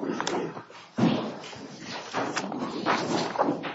Microsoft Office Word Document MSWordDoc Word.Document.8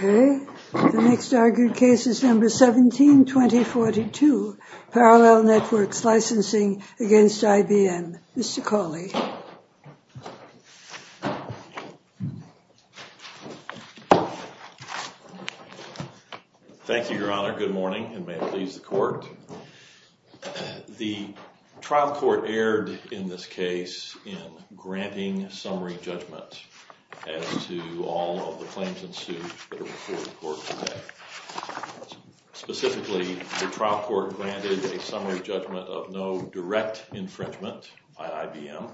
Okay, the next argued case is number 17-2042, Parallel Networks Licensing against IBM. Mr. Cawley. Thank you, Your Honor. Good morning, and may it please the Court. The trial court erred in this case in granting summary judgment as to all of the claims in suit that are before the Court today. Specifically, the trial court granted a summary judgment of no direct infringement by IBM,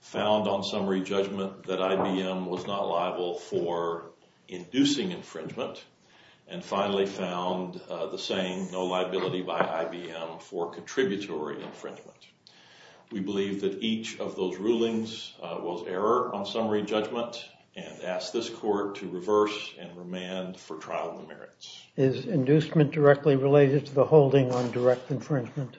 found on summary judgment that IBM was not liable for inducing infringement, and finally found the saying no liability by IBM for contributory infringement. We believe that each of those rulings was error on summary judgment and ask this Court to reverse and remand for trial in the merits. Is inducement directly related to the holding on direct infringement?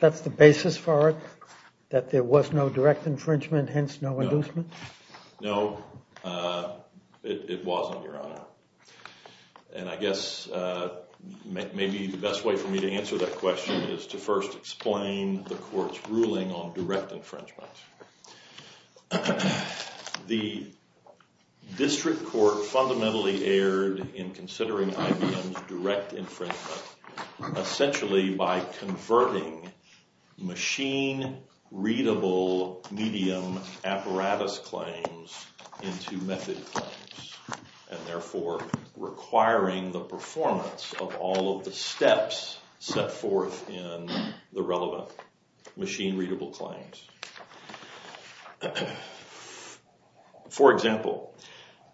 That's the basis for it, that there was no direct infringement, hence no inducement? No, it wasn't, Your Honor. And I guess maybe the best way for me to answer that question is to first explain the Court's ruling on direct infringement. The district court fundamentally erred in considering IBM's direct infringement essentially by converting machine-readable medium apparatus claims into method claims, and therefore requiring the performance of all of the steps set forth in the relevant machine-readable claims. For example,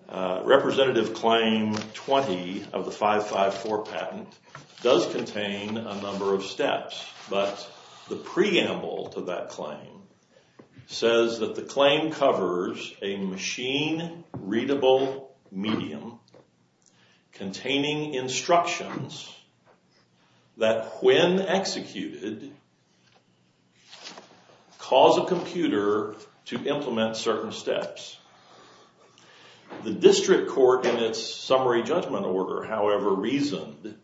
Representative Claim 20 of the 554 patent does contain a number of steps, but the preamble to that claim says that the claim covers a machine-readable medium containing instructions that, when executed, cause a computer to implement certain steps. The district court in its summary judgment order, however, reasoned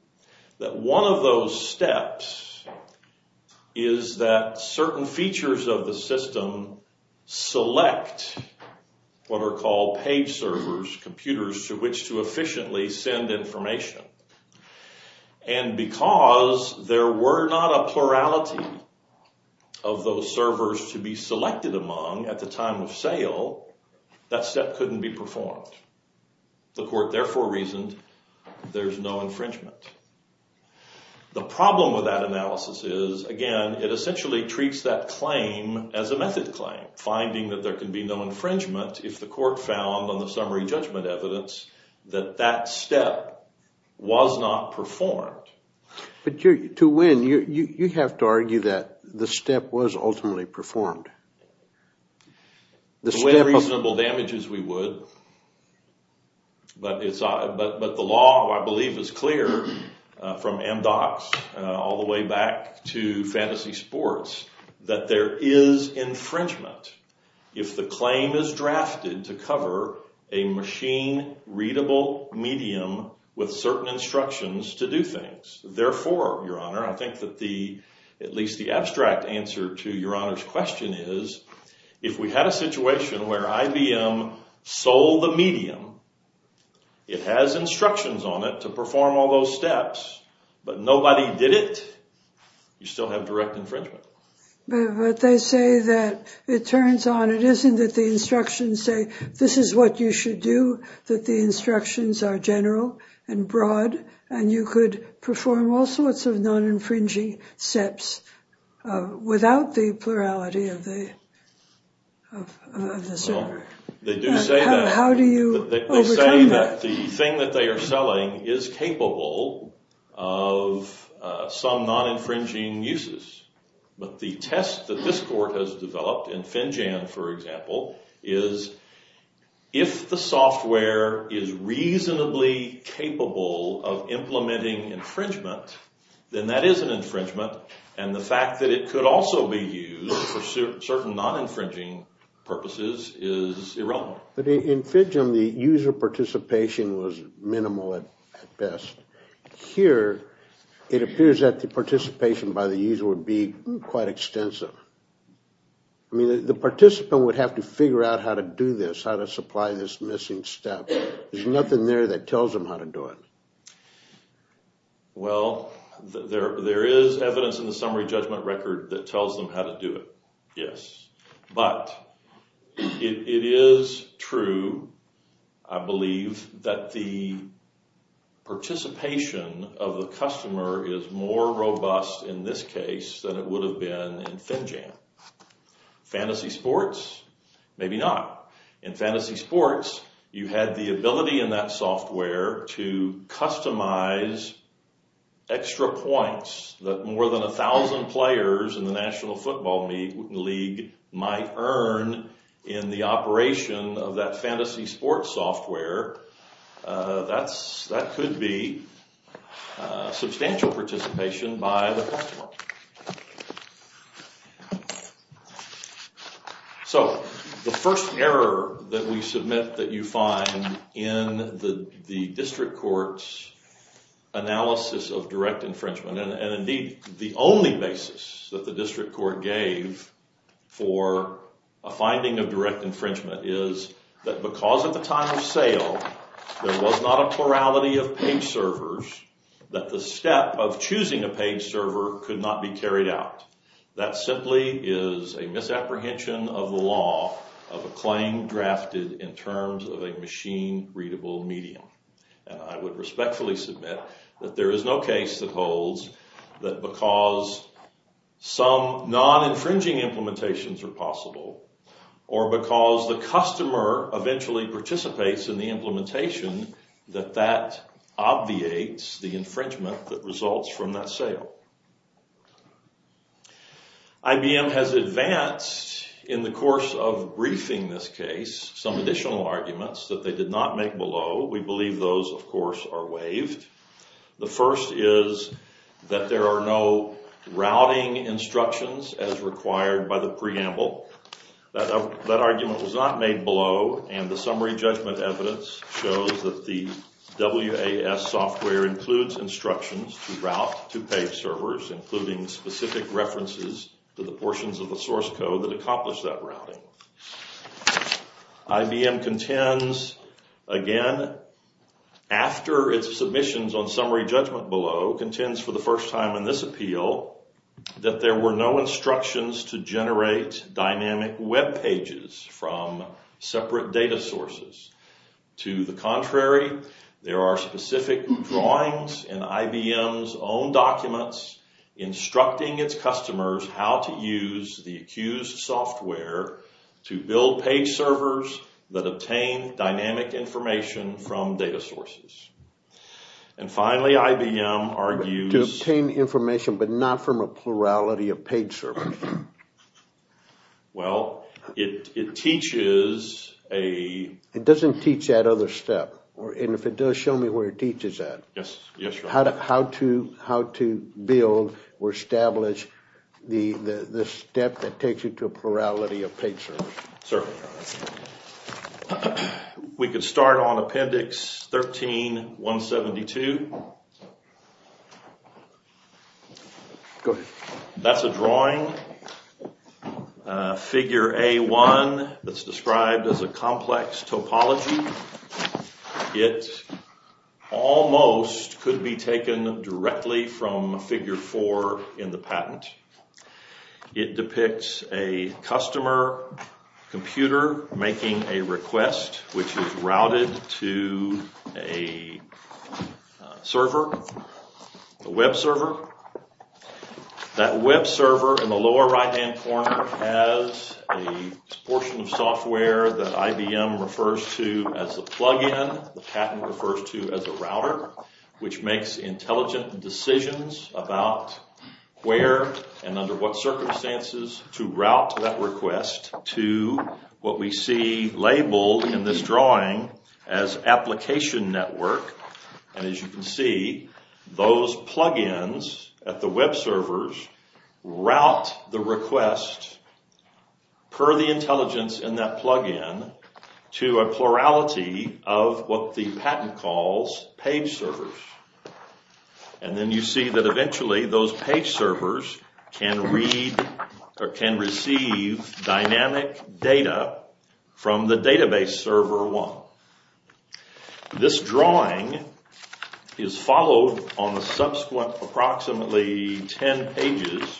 that one of those steps is that certain features of the system select what are called page servers, computers to which to efficiently send information. And because there were not a plurality of those servers to be selected among at the time of sale, that step couldn't be performed. The court therefore reasoned there's no infringement. The problem with that analysis is, again, it essentially treats that claim as a method claim, finding that there can be no infringement if the court found on the summary judgment evidence that that step was not performed. But to win, you have to argue that the step was ultimately performed. The way reasonable damage is we would, but the law, I believe, is clear from MDOCS all the way back to fantasy sports that there is infringement if the claim is drafted to cover a machine-readable medium with certain instructions to do things. Therefore, Your Honor, I think that at least the abstract answer to Your Honor's question is, if we had a situation where IBM sold the medium, it has instructions on it to perform all those steps, but nobody did it, you still have direct infringement. But they say that it turns on, it isn't that the instructions say, this is what you should do, that the instructions are general and broad, and you could perform all sorts of non-infringing steps without the plurality of the server. They do say that. How do you overturn that? But in FIDGEM, the user participation was minimal at best. Here, it appears that the participation by the user would be quite extensive. I mean, the participant would have to figure out how to do this, how to supply this missing step. There's nothing there that tells them how to do it. Well, there is evidence in the summary judgment record that tells them how to do it, yes. But it is true, I believe, that the participation of the customer is more robust in this case than it would have been in FINJAM. Fantasy sports? Maybe not. In fantasy sports, you had the ability in that software to customize extra points that more than 1,000 players in the National Football League might earn in the operation of that fantasy sports software. That could be substantial participation by the customer. So, the first error that we submit that you find in the district court's analysis of direct infringement, and indeed, the only basis that the district court gave for a finding of direct infringement is that because at the time of sale, there was not a plurality of page servers, that the step of choosing a page server could not be carried out. That simply is a misapprehension of the law of a claim drafted in terms of a machine-readable medium. And I would respectfully submit that there is no case that holds that because some non-infringing implementations are possible, or because the customer eventually participates in the implementation, that that obviates the infringement that results from that sale. IBM has advanced in the course of briefing this case some additional arguments that they did not make below. We believe those, of course, are waived. The first is that there are no routing instructions as required by the preamble. That argument was not made below, and the summary judgment evidence shows that the WAS software includes instructions to route to page servers, including specific references to the portions of the source code that accomplish that routing. IBM contends, again, after its submissions on summary judgment below, contends for the first time in this appeal that there were no instructions to generate dynamic web pages from separate data sources. To the contrary, there are specific drawings in IBM's own documents instructing its customers how to use the accused software to build page servers that obtain dynamic information from data sources. And finally, IBM argues... To obtain information, but not from a plurality of page servers. Well, it teaches a... It doesn't teach that other step. And if it does, show me where it teaches that. Yes, yes, your honor. How to build or establish the step that takes you to a plurality of page servers. Sir. We can start on appendix 13-172. Go ahead. That's a drawing, figure A-1, that's described as a complex topology. It almost could be taken directly from figure 4 in the patent. It depicts a customer computer making a request which is routed to a server, a web server. That web server in the lower right-hand corner has a portion of software that IBM refers to as a plug-in. The patent refers to as a router, which makes intelligent decisions about where and under what circumstances to route that request to what we see labeled in this drawing as application network. And as you can see, those plug-ins at the web servers route the request per the intelligence in that plug-in to a plurality of what the patent calls page servers. And then you see that eventually those page servers can read or can receive dynamic data from the database server 1. This drawing is followed on the subsequent approximately 10 pages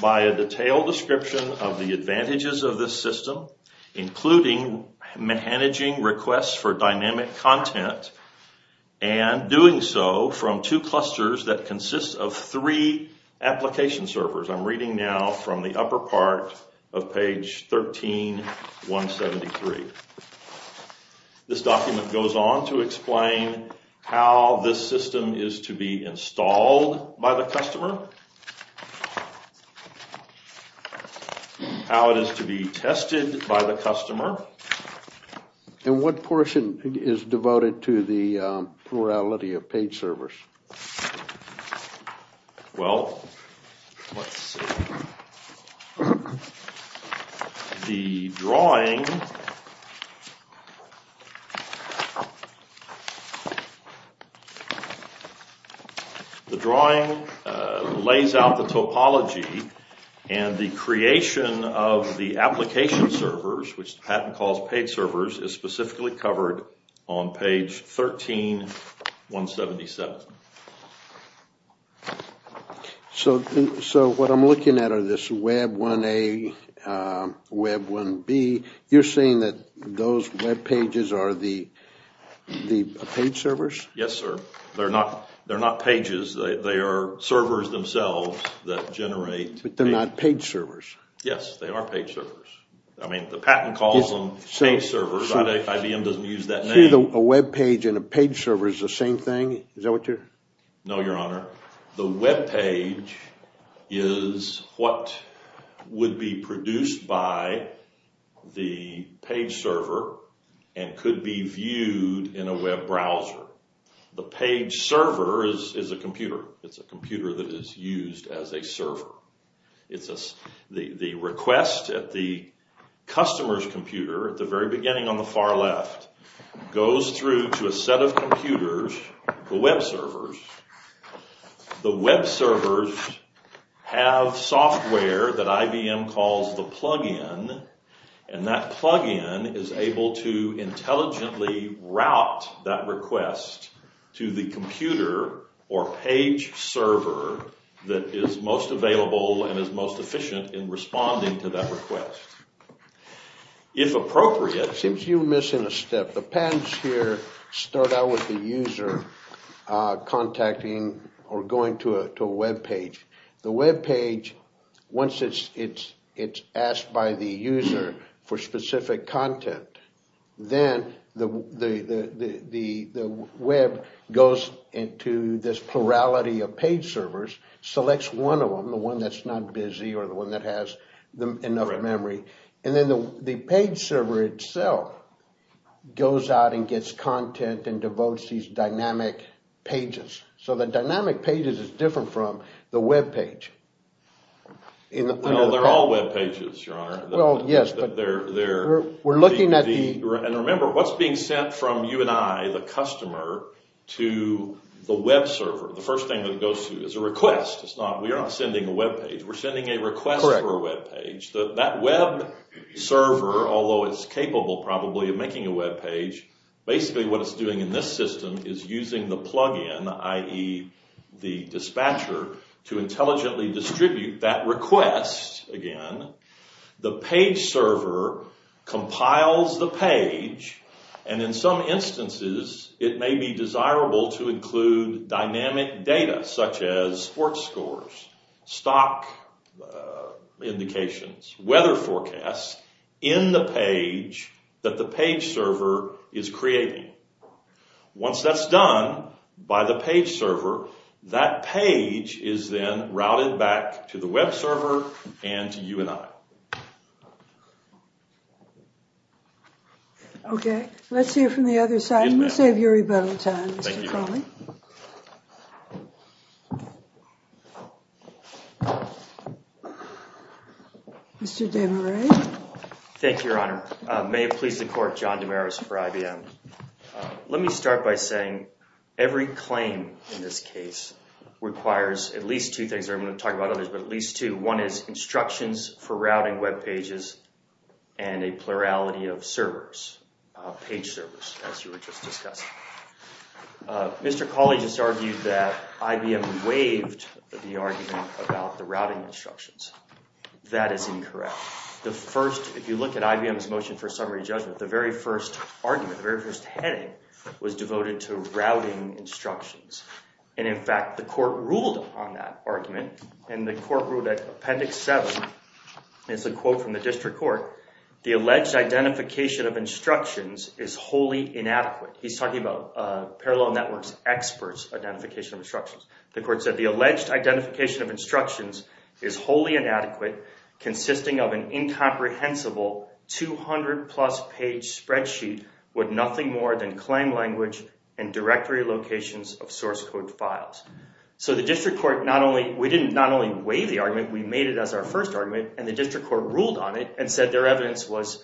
by a detailed description of the advantages of this system, including managing requests for dynamic content and doing so from two clusters that consist of three application servers. I'm reading now from the upper part of page 13-173. This document goes on to explain how this system is to be installed by the customer, how it is to be tested by the customer. And what portion is devoted to the plurality of page servers? Well, let's see. The drawing lays out the topology and the creation of the application servers, which the patent calls page servers, is specifically covered on page 13-177. So what I'm looking at are this web 1A, web 1B. You're saying that those web pages are the page servers? Yes, sir. They're not pages. They are servers themselves that generate... But they're not page servers. Yes, they are page servers. I mean, the patent calls them page servers. IBM doesn't use that name. You're saying a web page and a page server is the same thing? Is that what you're... No, Your Honor. The web page is what would be produced by the page server and could be viewed in a web browser. The page server is a computer. It's a computer that is used as a server. The request at the customer's computer at the very beginning on the far left goes through to a set of computers, the web servers. The web servers have software that IBM calls the plug-in, and that plug-in is able to intelligently route that request to the computer or page server that is most available and is most efficient in responding to that request. If appropriate... It seems you're missing a step. The patents here start out with the user contacting or going to a web page. The web page, once it's asked by the user for specific content, then the web goes into this plurality of page servers, selects one of them, the one that's not busy or the one that has enough memory. And then the page server itself goes out and gets content and devotes these dynamic pages. So the dynamic pages is different from the web page. Well, they're all web pages, Your Honor. Well, yes, but we're looking at the... And remember, what's being sent from you and I, the customer, to the web server? The first thing that goes through is a request. We're not sending a web page. We're sending a request for a web page. That web server, although it's capable probably of making a web page, basically what it's doing in this system is using the plug-in, i.e. the dispatcher, to intelligently distribute that request, again. The page server compiles the page, and in some instances, it may be desirable to include dynamic data, such as sports scores, stock indications, weather forecasts, in the page that the page server is creating. Once that's done by the page server, that page is then routed back to the web server and to you and I. Okay. Let's hear from the other side. We'll save your rebuttal time, Mr. Crowley. Thank you, Your Honor. Mr. DeMarais. Thank you, Your Honor. May it please the Court, John DeMarais for IBM. Let me start by saying every claim in this case requires at least two things. I'm going to talk about others, but at least two. One is instructions for routing web pages and a plurality of servers, page servers, as you were just discussing. Mr. Crowley just argued that IBM waived the argument about the routing instructions. That is incorrect. If you look at IBM's motion for summary judgment, the very first argument, the very first heading, was devoted to routing instructions. In fact, the Court ruled on that argument, and the Court ruled at Appendix 7. It's a quote from the District Court. The alleged identification of instructions is wholly inadequate. He's talking about Parallel Network's experts' identification of instructions. The Court said the alleged identification of instructions is wholly inadequate, consisting of an incomprehensible 200-plus page spreadsheet with nothing more than claim language and directory locations of source code files. So the District Court not only—we didn't not only waive the argument, we made it as our first argument, and the District Court ruled on it and said their evidence was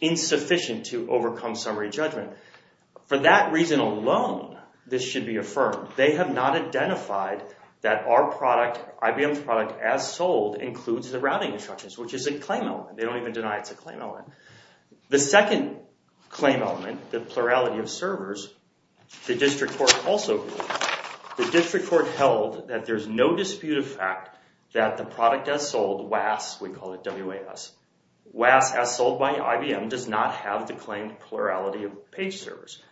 insufficient to overcome summary judgment. For that reason alone, this should be affirmed. They have not identified that our product, IBM's product, as sold includes the routing instructions, which is a claim element. They don't even deny it's a claim element. The second claim element, the plurality of servers, the District Court also ruled. The District Court held that there's no dispute of fact that the product as sold, WAS, we call it WAS, WAS as sold by IBM does not have the claimed plurality of page servers.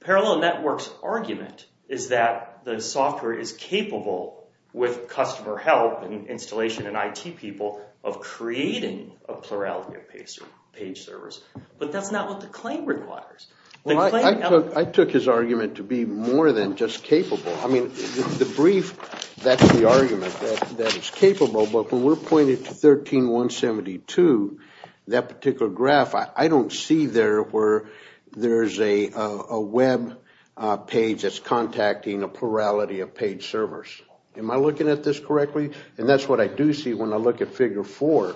Parallel Network's argument is that the software is capable, with customer help and installation and IT people, of creating a plurality of page servers. But that's not what the claim requires. I took his argument to be more than just capable. I mean, the brief, that's the argument, that it's capable. But when we're pointed to 13-172, that particular graph, I don't see there where there's a web page that's contacting a plurality of page servers. Am I looking at this correctly? And that's what I do see when I look at Figure 4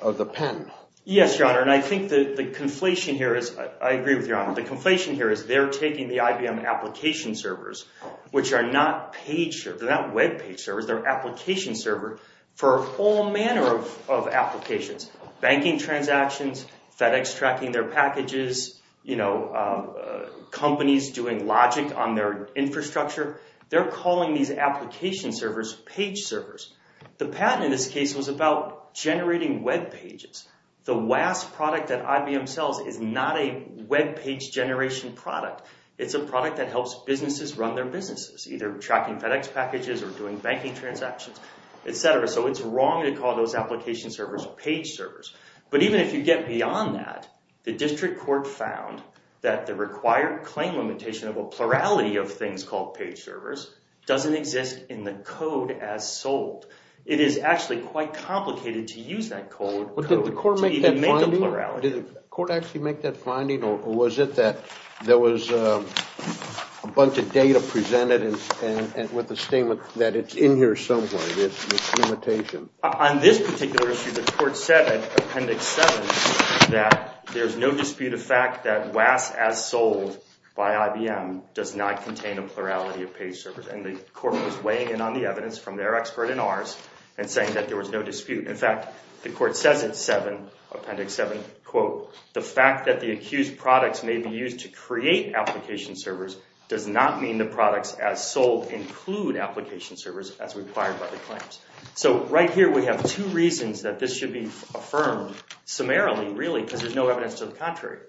of the patent. Yes, Your Honor, and I think the conflation here is, I agree with Your Honor, the conflation here is they're taking the IBM application servers, which are not page servers, they're not web page servers, they're application servers for a whole manner of applications. Banking transactions, FedEx tracking their packages, companies doing logic on their infrastructure, they're calling these application servers page servers. The patent in this case was about generating web pages. The WAS product that IBM sells is not a web page generation product. It's a product that helps businesses run their businesses, either tracking FedEx packages or doing banking transactions, etc. So it's wrong to call those application servers page servers. But even if you get beyond that, the district court found that the required claim limitation of a plurality of things called page servers doesn't exist in the code as sold. It is actually quite complicated to use that code to even make a plurality. Did the court actually make that finding? Or was it that there was a bunch of data presented with the statement that it's in here somewhere, this limitation? On this particular issue, the court said in Appendix 7 that there's no dispute of fact that WAS as sold by IBM does not contain a plurality of page servers. And the court was weighing in on the evidence from their expert and ours and saying that there was no dispute. In fact, the court says in Appendix 7, quote, the fact that the accused products may be used to create application servers does not mean the products as sold include application servers as required by the claims. So right here we have two reasons that this should be affirmed summarily, really, because there's no evidence to the contrary.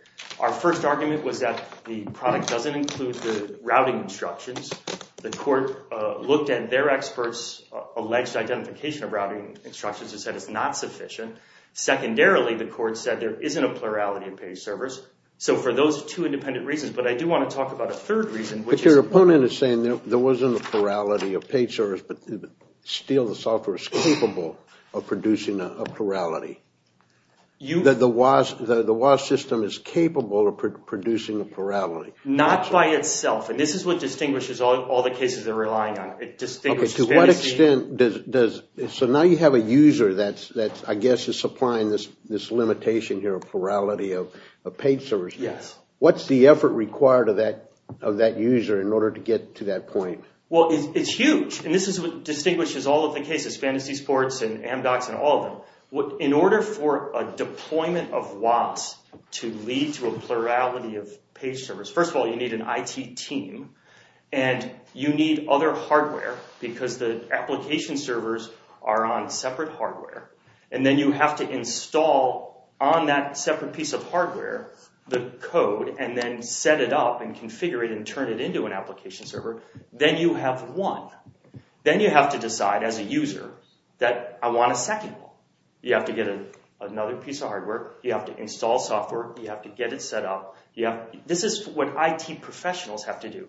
Our first argument was that the product doesn't include the routing instructions. The court looked at their experts' alleged identification of routing instructions and said it's not sufficient. Secondarily, the court said there isn't a plurality of page servers. So for those two independent reasons, but I do want to talk about a third reason. But your opponent is saying there wasn't a plurality of page servers, but still the software is capable of producing a plurality. The WAS system is capable of producing a plurality. Not by itself. And this is what distinguishes all the cases they're relying on. To what extent does, so now you have a user that I guess is supplying this limitation here, a plurality of page servers. Yes. What's the effort required of that user in order to get to that point? Well, it's huge. And this is what distinguishes all of the cases, Fantasy Sports and Amdocs and all of them. In order for a deployment of WAS to lead to a plurality of page servers, first of all you need an IT team. And you need other hardware because the application servers are on separate hardware. And then you have to install on that separate piece of hardware the code and then set it up and configure it and turn it into an application server. Then you have one. Then you have to decide as a user that I want a second one. You have to get another piece of hardware. You have to install software. You have to get it set up. This is what IT professionals have to do.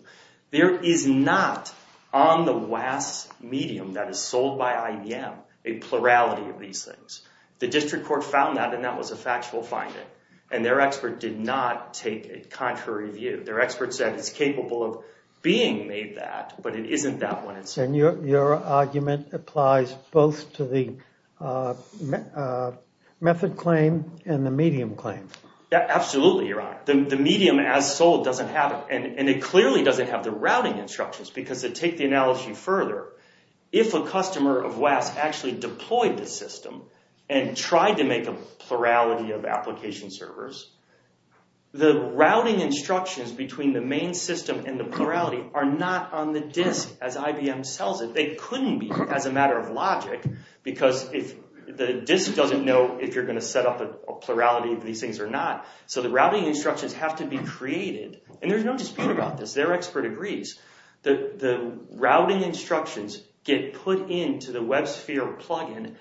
There is not on the WAS medium that is sold by IBM a plurality of these things. The district court found that and that was a factual finding. And their expert did not take a contrary view. Their expert said it's capable of being made that, but it isn't that one. And your argument applies both to the method claim and the medium claim. Absolutely, Your Honor. The medium as sold doesn't have it. And it clearly doesn't have the routing instructions because to take the analogy further, if a customer of WAS actually deployed the system and tried to make a plurality of application servers, the routing instructions between the main system and the plurality are not on the disk as IBM sells it. They couldn't be as a matter of logic because the disk doesn't know if you're going to set up a plurality of these things or not. So the routing instructions have to be created. And there's no dispute about this. Their expert agrees. The routing instructions get put into the WebSphere plug-in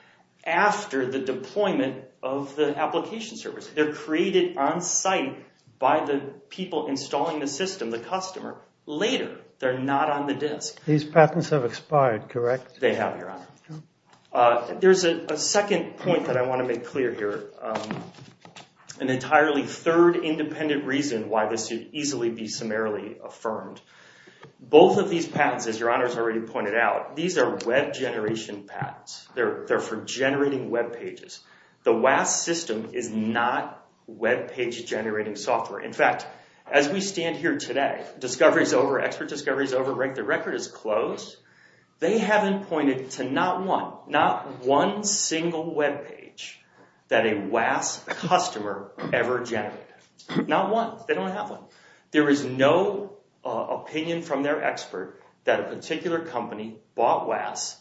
after the deployment of the application servers. They're created on site by the people installing the system, the customer. Later, they're not on the disk. These patents have expired, correct? They have, Your Honor. There's a second point that I want to make clear here, an entirely third independent reason why this should easily be summarily affirmed. Both of these patents, as Your Honor has already pointed out, these are web generation patents. They're for generating web pages. The WAAS system is not web page generating software. In fact, as we stand here today, discoveries over, expert discoveries over, the record is closed. They haven't pointed to not one, not one single web page that a WAAS customer ever generated. Not one. They don't have one. There is no opinion from their expert that a particular company bought WAAS,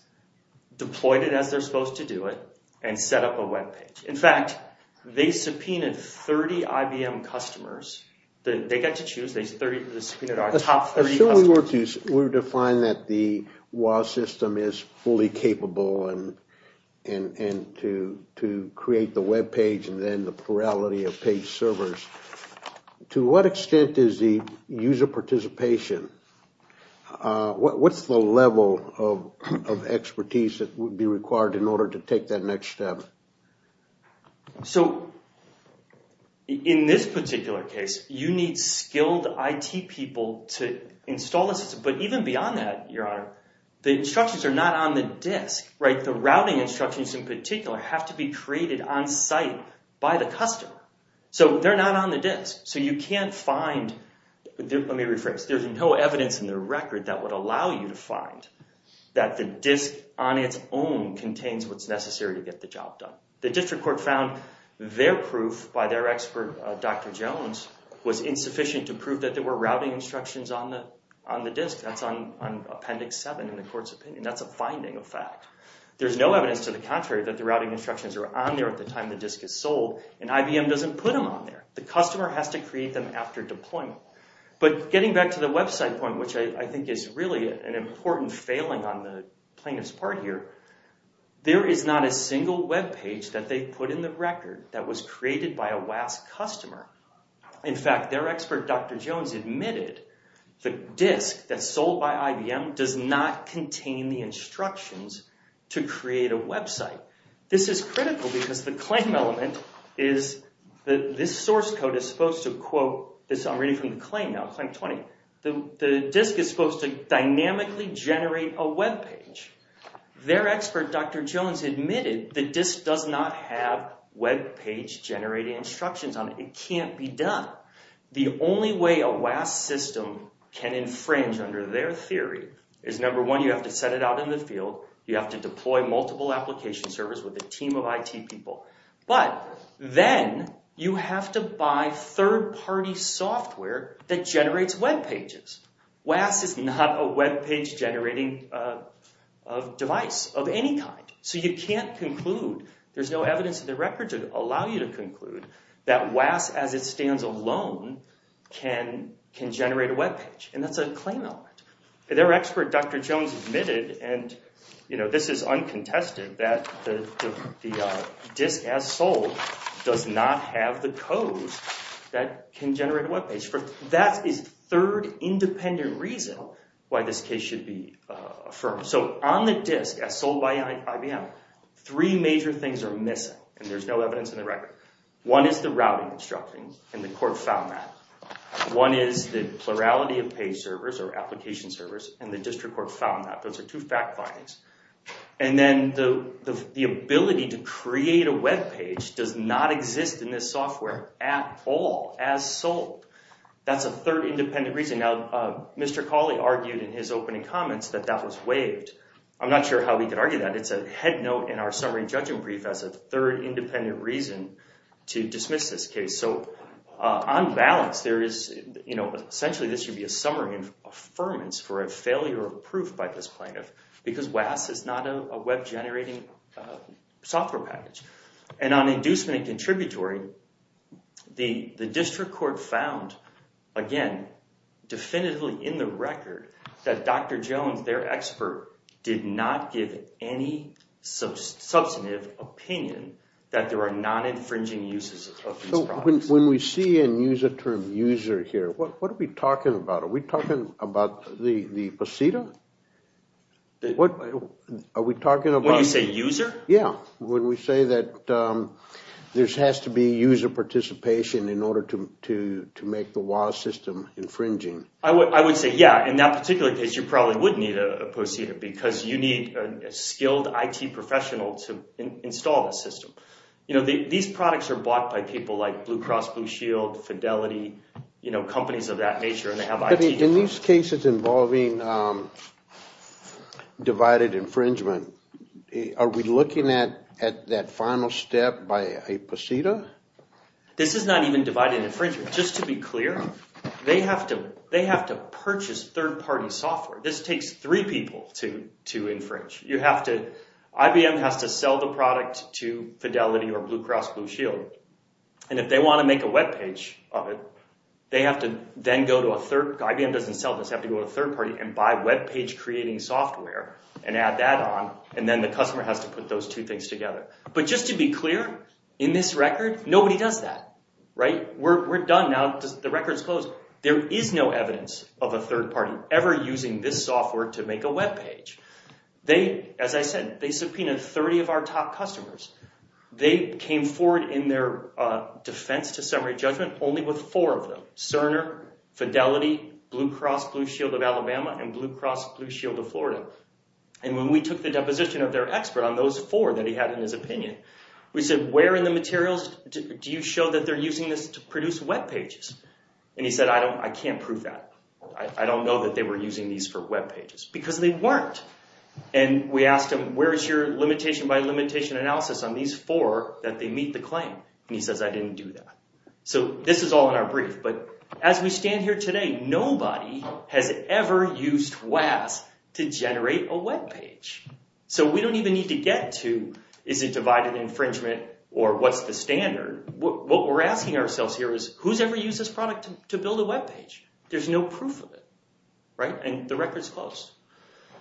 deployed it as they're supposed to do it, and set up a web page. In fact, they subpoenaed 30 IBM customers. They get to choose. They subpoenaed our top 30 customers. We've defined that the WAAS system is fully capable to create the web page and then the plurality of page servers. To what extent is the user participation, what's the level of expertise that would be required in order to take that next step? In this particular case, you need skilled IT people to install the system. But even beyond that, Your Honor, the instructions are not on the disk. The routing instructions in particular have to be created on site by the customer. They're not on the disk, so you can't find, let me rephrase, there's no evidence in the record that would allow you to find that the disk on its own contains what's necessary to get the job done. The district court found their proof by their expert, Dr. Jones, was insufficient to prove that there were routing instructions on the disk. That's on Appendix 7 in the court's opinion. That's a finding of fact. There's no evidence to the contrary that the routing instructions are on there at the time the disk is sold, and IBM doesn't put them on there. The customer has to create them after deployment. But getting back to the website point, which I think is really an important failing on the plaintiff's part here, there is not a single webpage that they put in the record that was created by a WASC customer. In fact, their expert, Dr. Jones, admitted the disk that's sold by IBM does not contain the instructions to create a website. This is critical because the claim element is that this source code is supposed to quote, I'm reading from the claim now, Claim 20, the disk is supposed to dynamically generate a webpage. Their expert, Dr. Jones, admitted the disk does not have webpage-generating instructions on it. It can't be done. The only way a WASC system can infringe under their theory is, number one, you have to set it out in the field. You have to deploy multiple application servers with a team of IT people. But then you have to buy third-party software that generates webpages. WASC is not a webpage-generating device of any kind. So you can't conclude, there's no evidence in the record to allow you to conclude, that WASC as it stands alone can generate a webpage. And that's a claim element. Their expert, Dr. Jones, admitted, and this is uncontested, that the disk as sold does not have the codes that can generate a webpage. That is the third independent reason why this case should be affirmed. So on the disk as sold by IBM, three major things are missing, and there's no evidence in the record. One is the routing instructions, and the court found that. One is the plurality of page servers or application servers, and the district court found that. Those are two fact findings. And then the ability to create a webpage does not exist in this software at all as sold. That's a third independent reason. Now, Mr. Cawley argued in his opening comments that that was waived. I'm not sure how we could argue that. It's a head note in our summary judgment brief as a third independent reason to dismiss this case. So on balance, there is, you know, essentially this should be a summary of affirmance for a failure of proof by this plaintiff, because WASC is not a web-generating software package. And on inducement and contributory, the district court found, again, definitively in the record, that Dr. Jones, their expert, did not give any substantive opinion that there are non-infringing uses of these products. When we see and use the term user here, what are we talking about? Are we talking about the posita? Are we talking about... When you say user? Yeah. When we say that there has to be user participation in order to make the WASC system infringing. I would say, yeah, in that particular case, you probably would need a posita, because you need a skilled IT professional to install the system. You know, these products are bought by people like Blue Cross Blue Shield, Fidelity, you know, companies of that nature. In these cases involving divided infringement, are we looking at that final step by a posita? This is not even divided infringement. Just to be clear, they have to purchase third-party software. This takes three people to infringe. IBM has to sell the product to Fidelity or Blue Cross Blue Shield. And if they want to make a webpage of it, they have to then go to a third... IBM doesn't sell this. They have to go to a third party and buy webpage-creating software and add that on, and then the customer has to put those two things together. But just to be clear, in this record, nobody does that. Right? We're done now. The record's closed. There is no evidence of a third party ever using this software to make a webpage. As I said, they subpoenaed 30 of our top customers. They came forward in their defense to summary judgment only with four of them. Cerner, Fidelity, Blue Cross Blue Shield of Alabama, and Blue Cross Blue Shield of Florida. And when we took the deposition of their expert on those four that he had in his opinion, we said, where in the materials do you show that they're using this to produce webpages? And he said, I can't prove that. I don't know that they were using these for webpages. Because they weren't. And we asked him, where is your limitation by limitation analysis on these four that they meet the claim? And he says, I didn't do that. So this is all in our brief. But as we stand here today, nobody has ever used WAAS to generate a webpage. So we don't even need to get to is it divided infringement or what's the standard. What we're asking ourselves here is, who's ever used this product to build a webpage? There's no proof of it. Right? And the record's closed.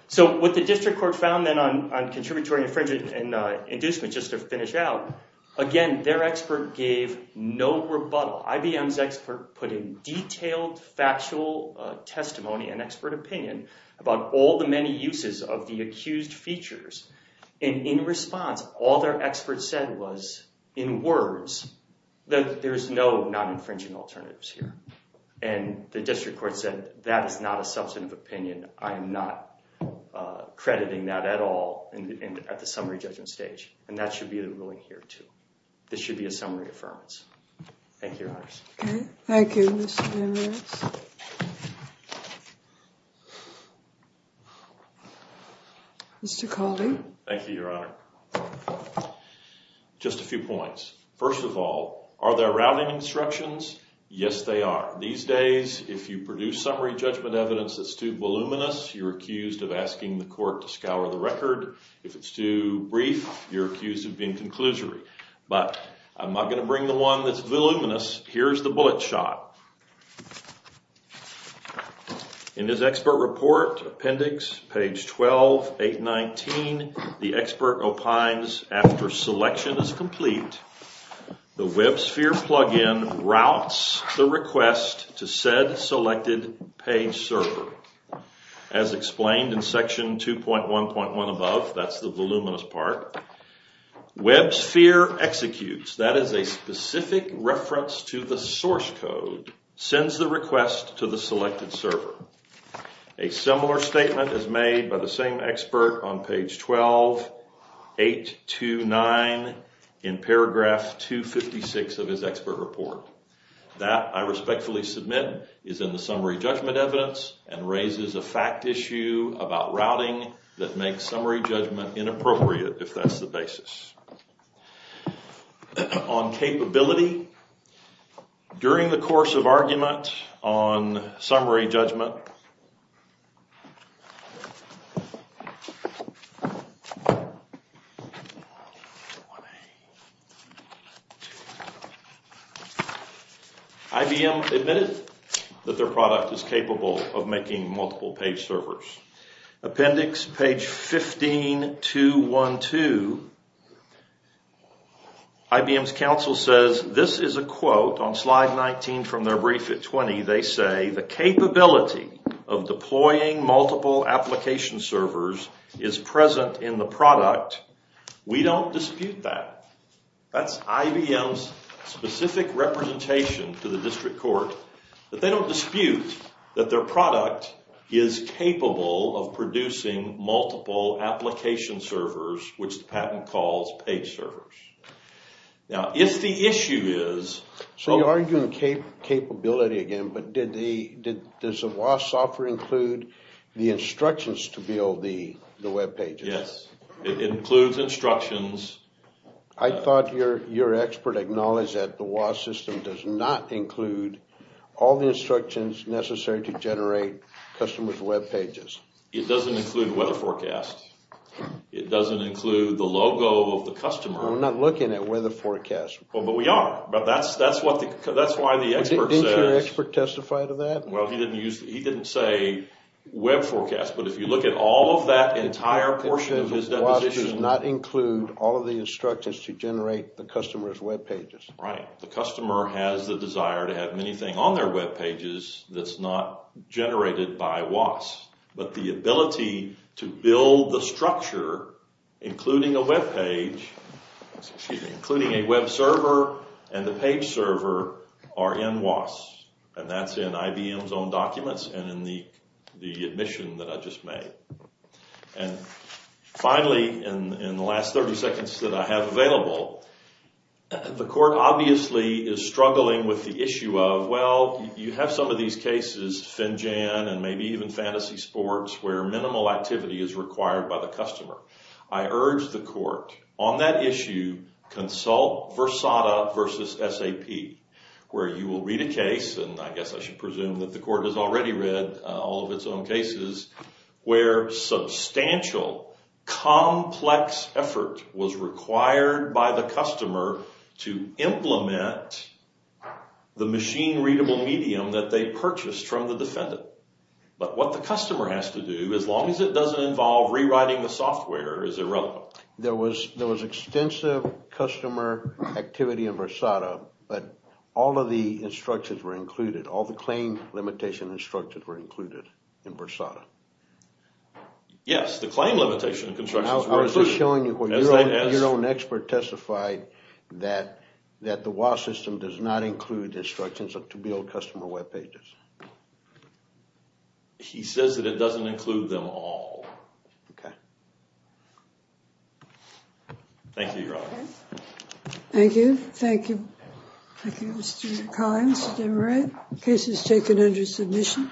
So what the district court found then on contributory infringement and inducement, just to finish out, again, their expert gave no rebuttal. IBM's expert put in detailed factual testimony and expert opinion about all the many uses of the accused features. And in response, all their expert said was, in words, that there's no non-infringing alternatives here. And the district court said, that is not a substantive opinion. I am not crediting that at all at the summary judgment stage. And that should be the ruling here, too. This should be a summary affirmance. Thank you, Your Honors. Okay. Thank you, Mr. Daniels. Mr. Caldy. Thank you, Your Honor. Just a few points. First of all, are there rounding instructions? Yes, they are. These days, if you produce summary judgment evidence that's too voluminous, you're accused of asking the court to scour the record. If it's too brief, you're accused of being conclusory. But I'm not going to bring the one that's voluminous. Here's the bullet shot. In this expert report, appendix, page 12, 819, the expert opines, after selection is complete, the WebSphere plug-in routes the request to said selected page server. As explained in section 2.1.1 above, that's the voluminous part, WebSphere executes, that is a specific reference to the source code, sends the request to the selected server. A similar statement is made by the same expert on page 12, 829, in paragraph 256 of his expert report. That, I respectfully submit, is in the summary judgment evidence and raises a fact issue about routing that makes summary judgment inappropriate, if that's the basis. On capability, during the course of argument on summary judgment, IBM admitted that their product is capable of making multiple page servers. Appendix, page 15.212, IBM's counsel says, this is a quote on slide 19 from their brief at 20. They say, the capability of deploying multiple application servers is present in the product. We don't dispute that. That's IBM's specific representation to the district court. But they don't dispute that their product is capable of producing multiple application servers, which the patent calls page servers. Now, if the issue is... So you're arguing capability again, but does the WAS software include the instructions to build the web pages? Yes, it includes instructions. I thought your expert acknowledged that the WAS system does not include all the instructions necessary to generate customers' web pages. It doesn't include weather forecast. It doesn't include the logo of the customer. We're not looking at weather forecast. But we are. That's why the expert says... Didn't your expert testify to that? Well, he didn't say web forecast. But if you look at all of that entire portion of his deposition... All of the instructions to generate the customer's web pages. Right. The customer has the desire to have many things on their web pages that's not generated by WAS. But the ability to build the structure, including a web page, including a web server and the page server, are in WAS. And that's in IBM's own documents and in the admission that I just made. And finally, in the last 30 seconds that I have available, the court obviously is struggling with the issue of... Well, you have some of these cases, Finjan and maybe even Fantasy Sports, where minimal activity is required by the customer. I urge the court on that issue, consult Versada versus SAP, where you will read a case. And I guess I should presume that the court has already read all of its own cases where substantial, complex effort was required by the customer to implement the machine-readable medium that they purchased from the defendant. But what the customer has to do, as long as it doesn't involve rewriting the software, is irrelevant. There was extensive customer activity in Versada, but all of the instructions were included. All the claim limitation instructions were included in Versada. Yes, the claim limitation instructions were included. I was just showing you where your own expert testified that the WAS system does not include instructions to build customer web pages. He says that it doesn't include them all. Okay. Thank you, Your Honor. Thank you. Thank you. Thank you, Mr. Collins, Mr. Moran. The case is taken under submission.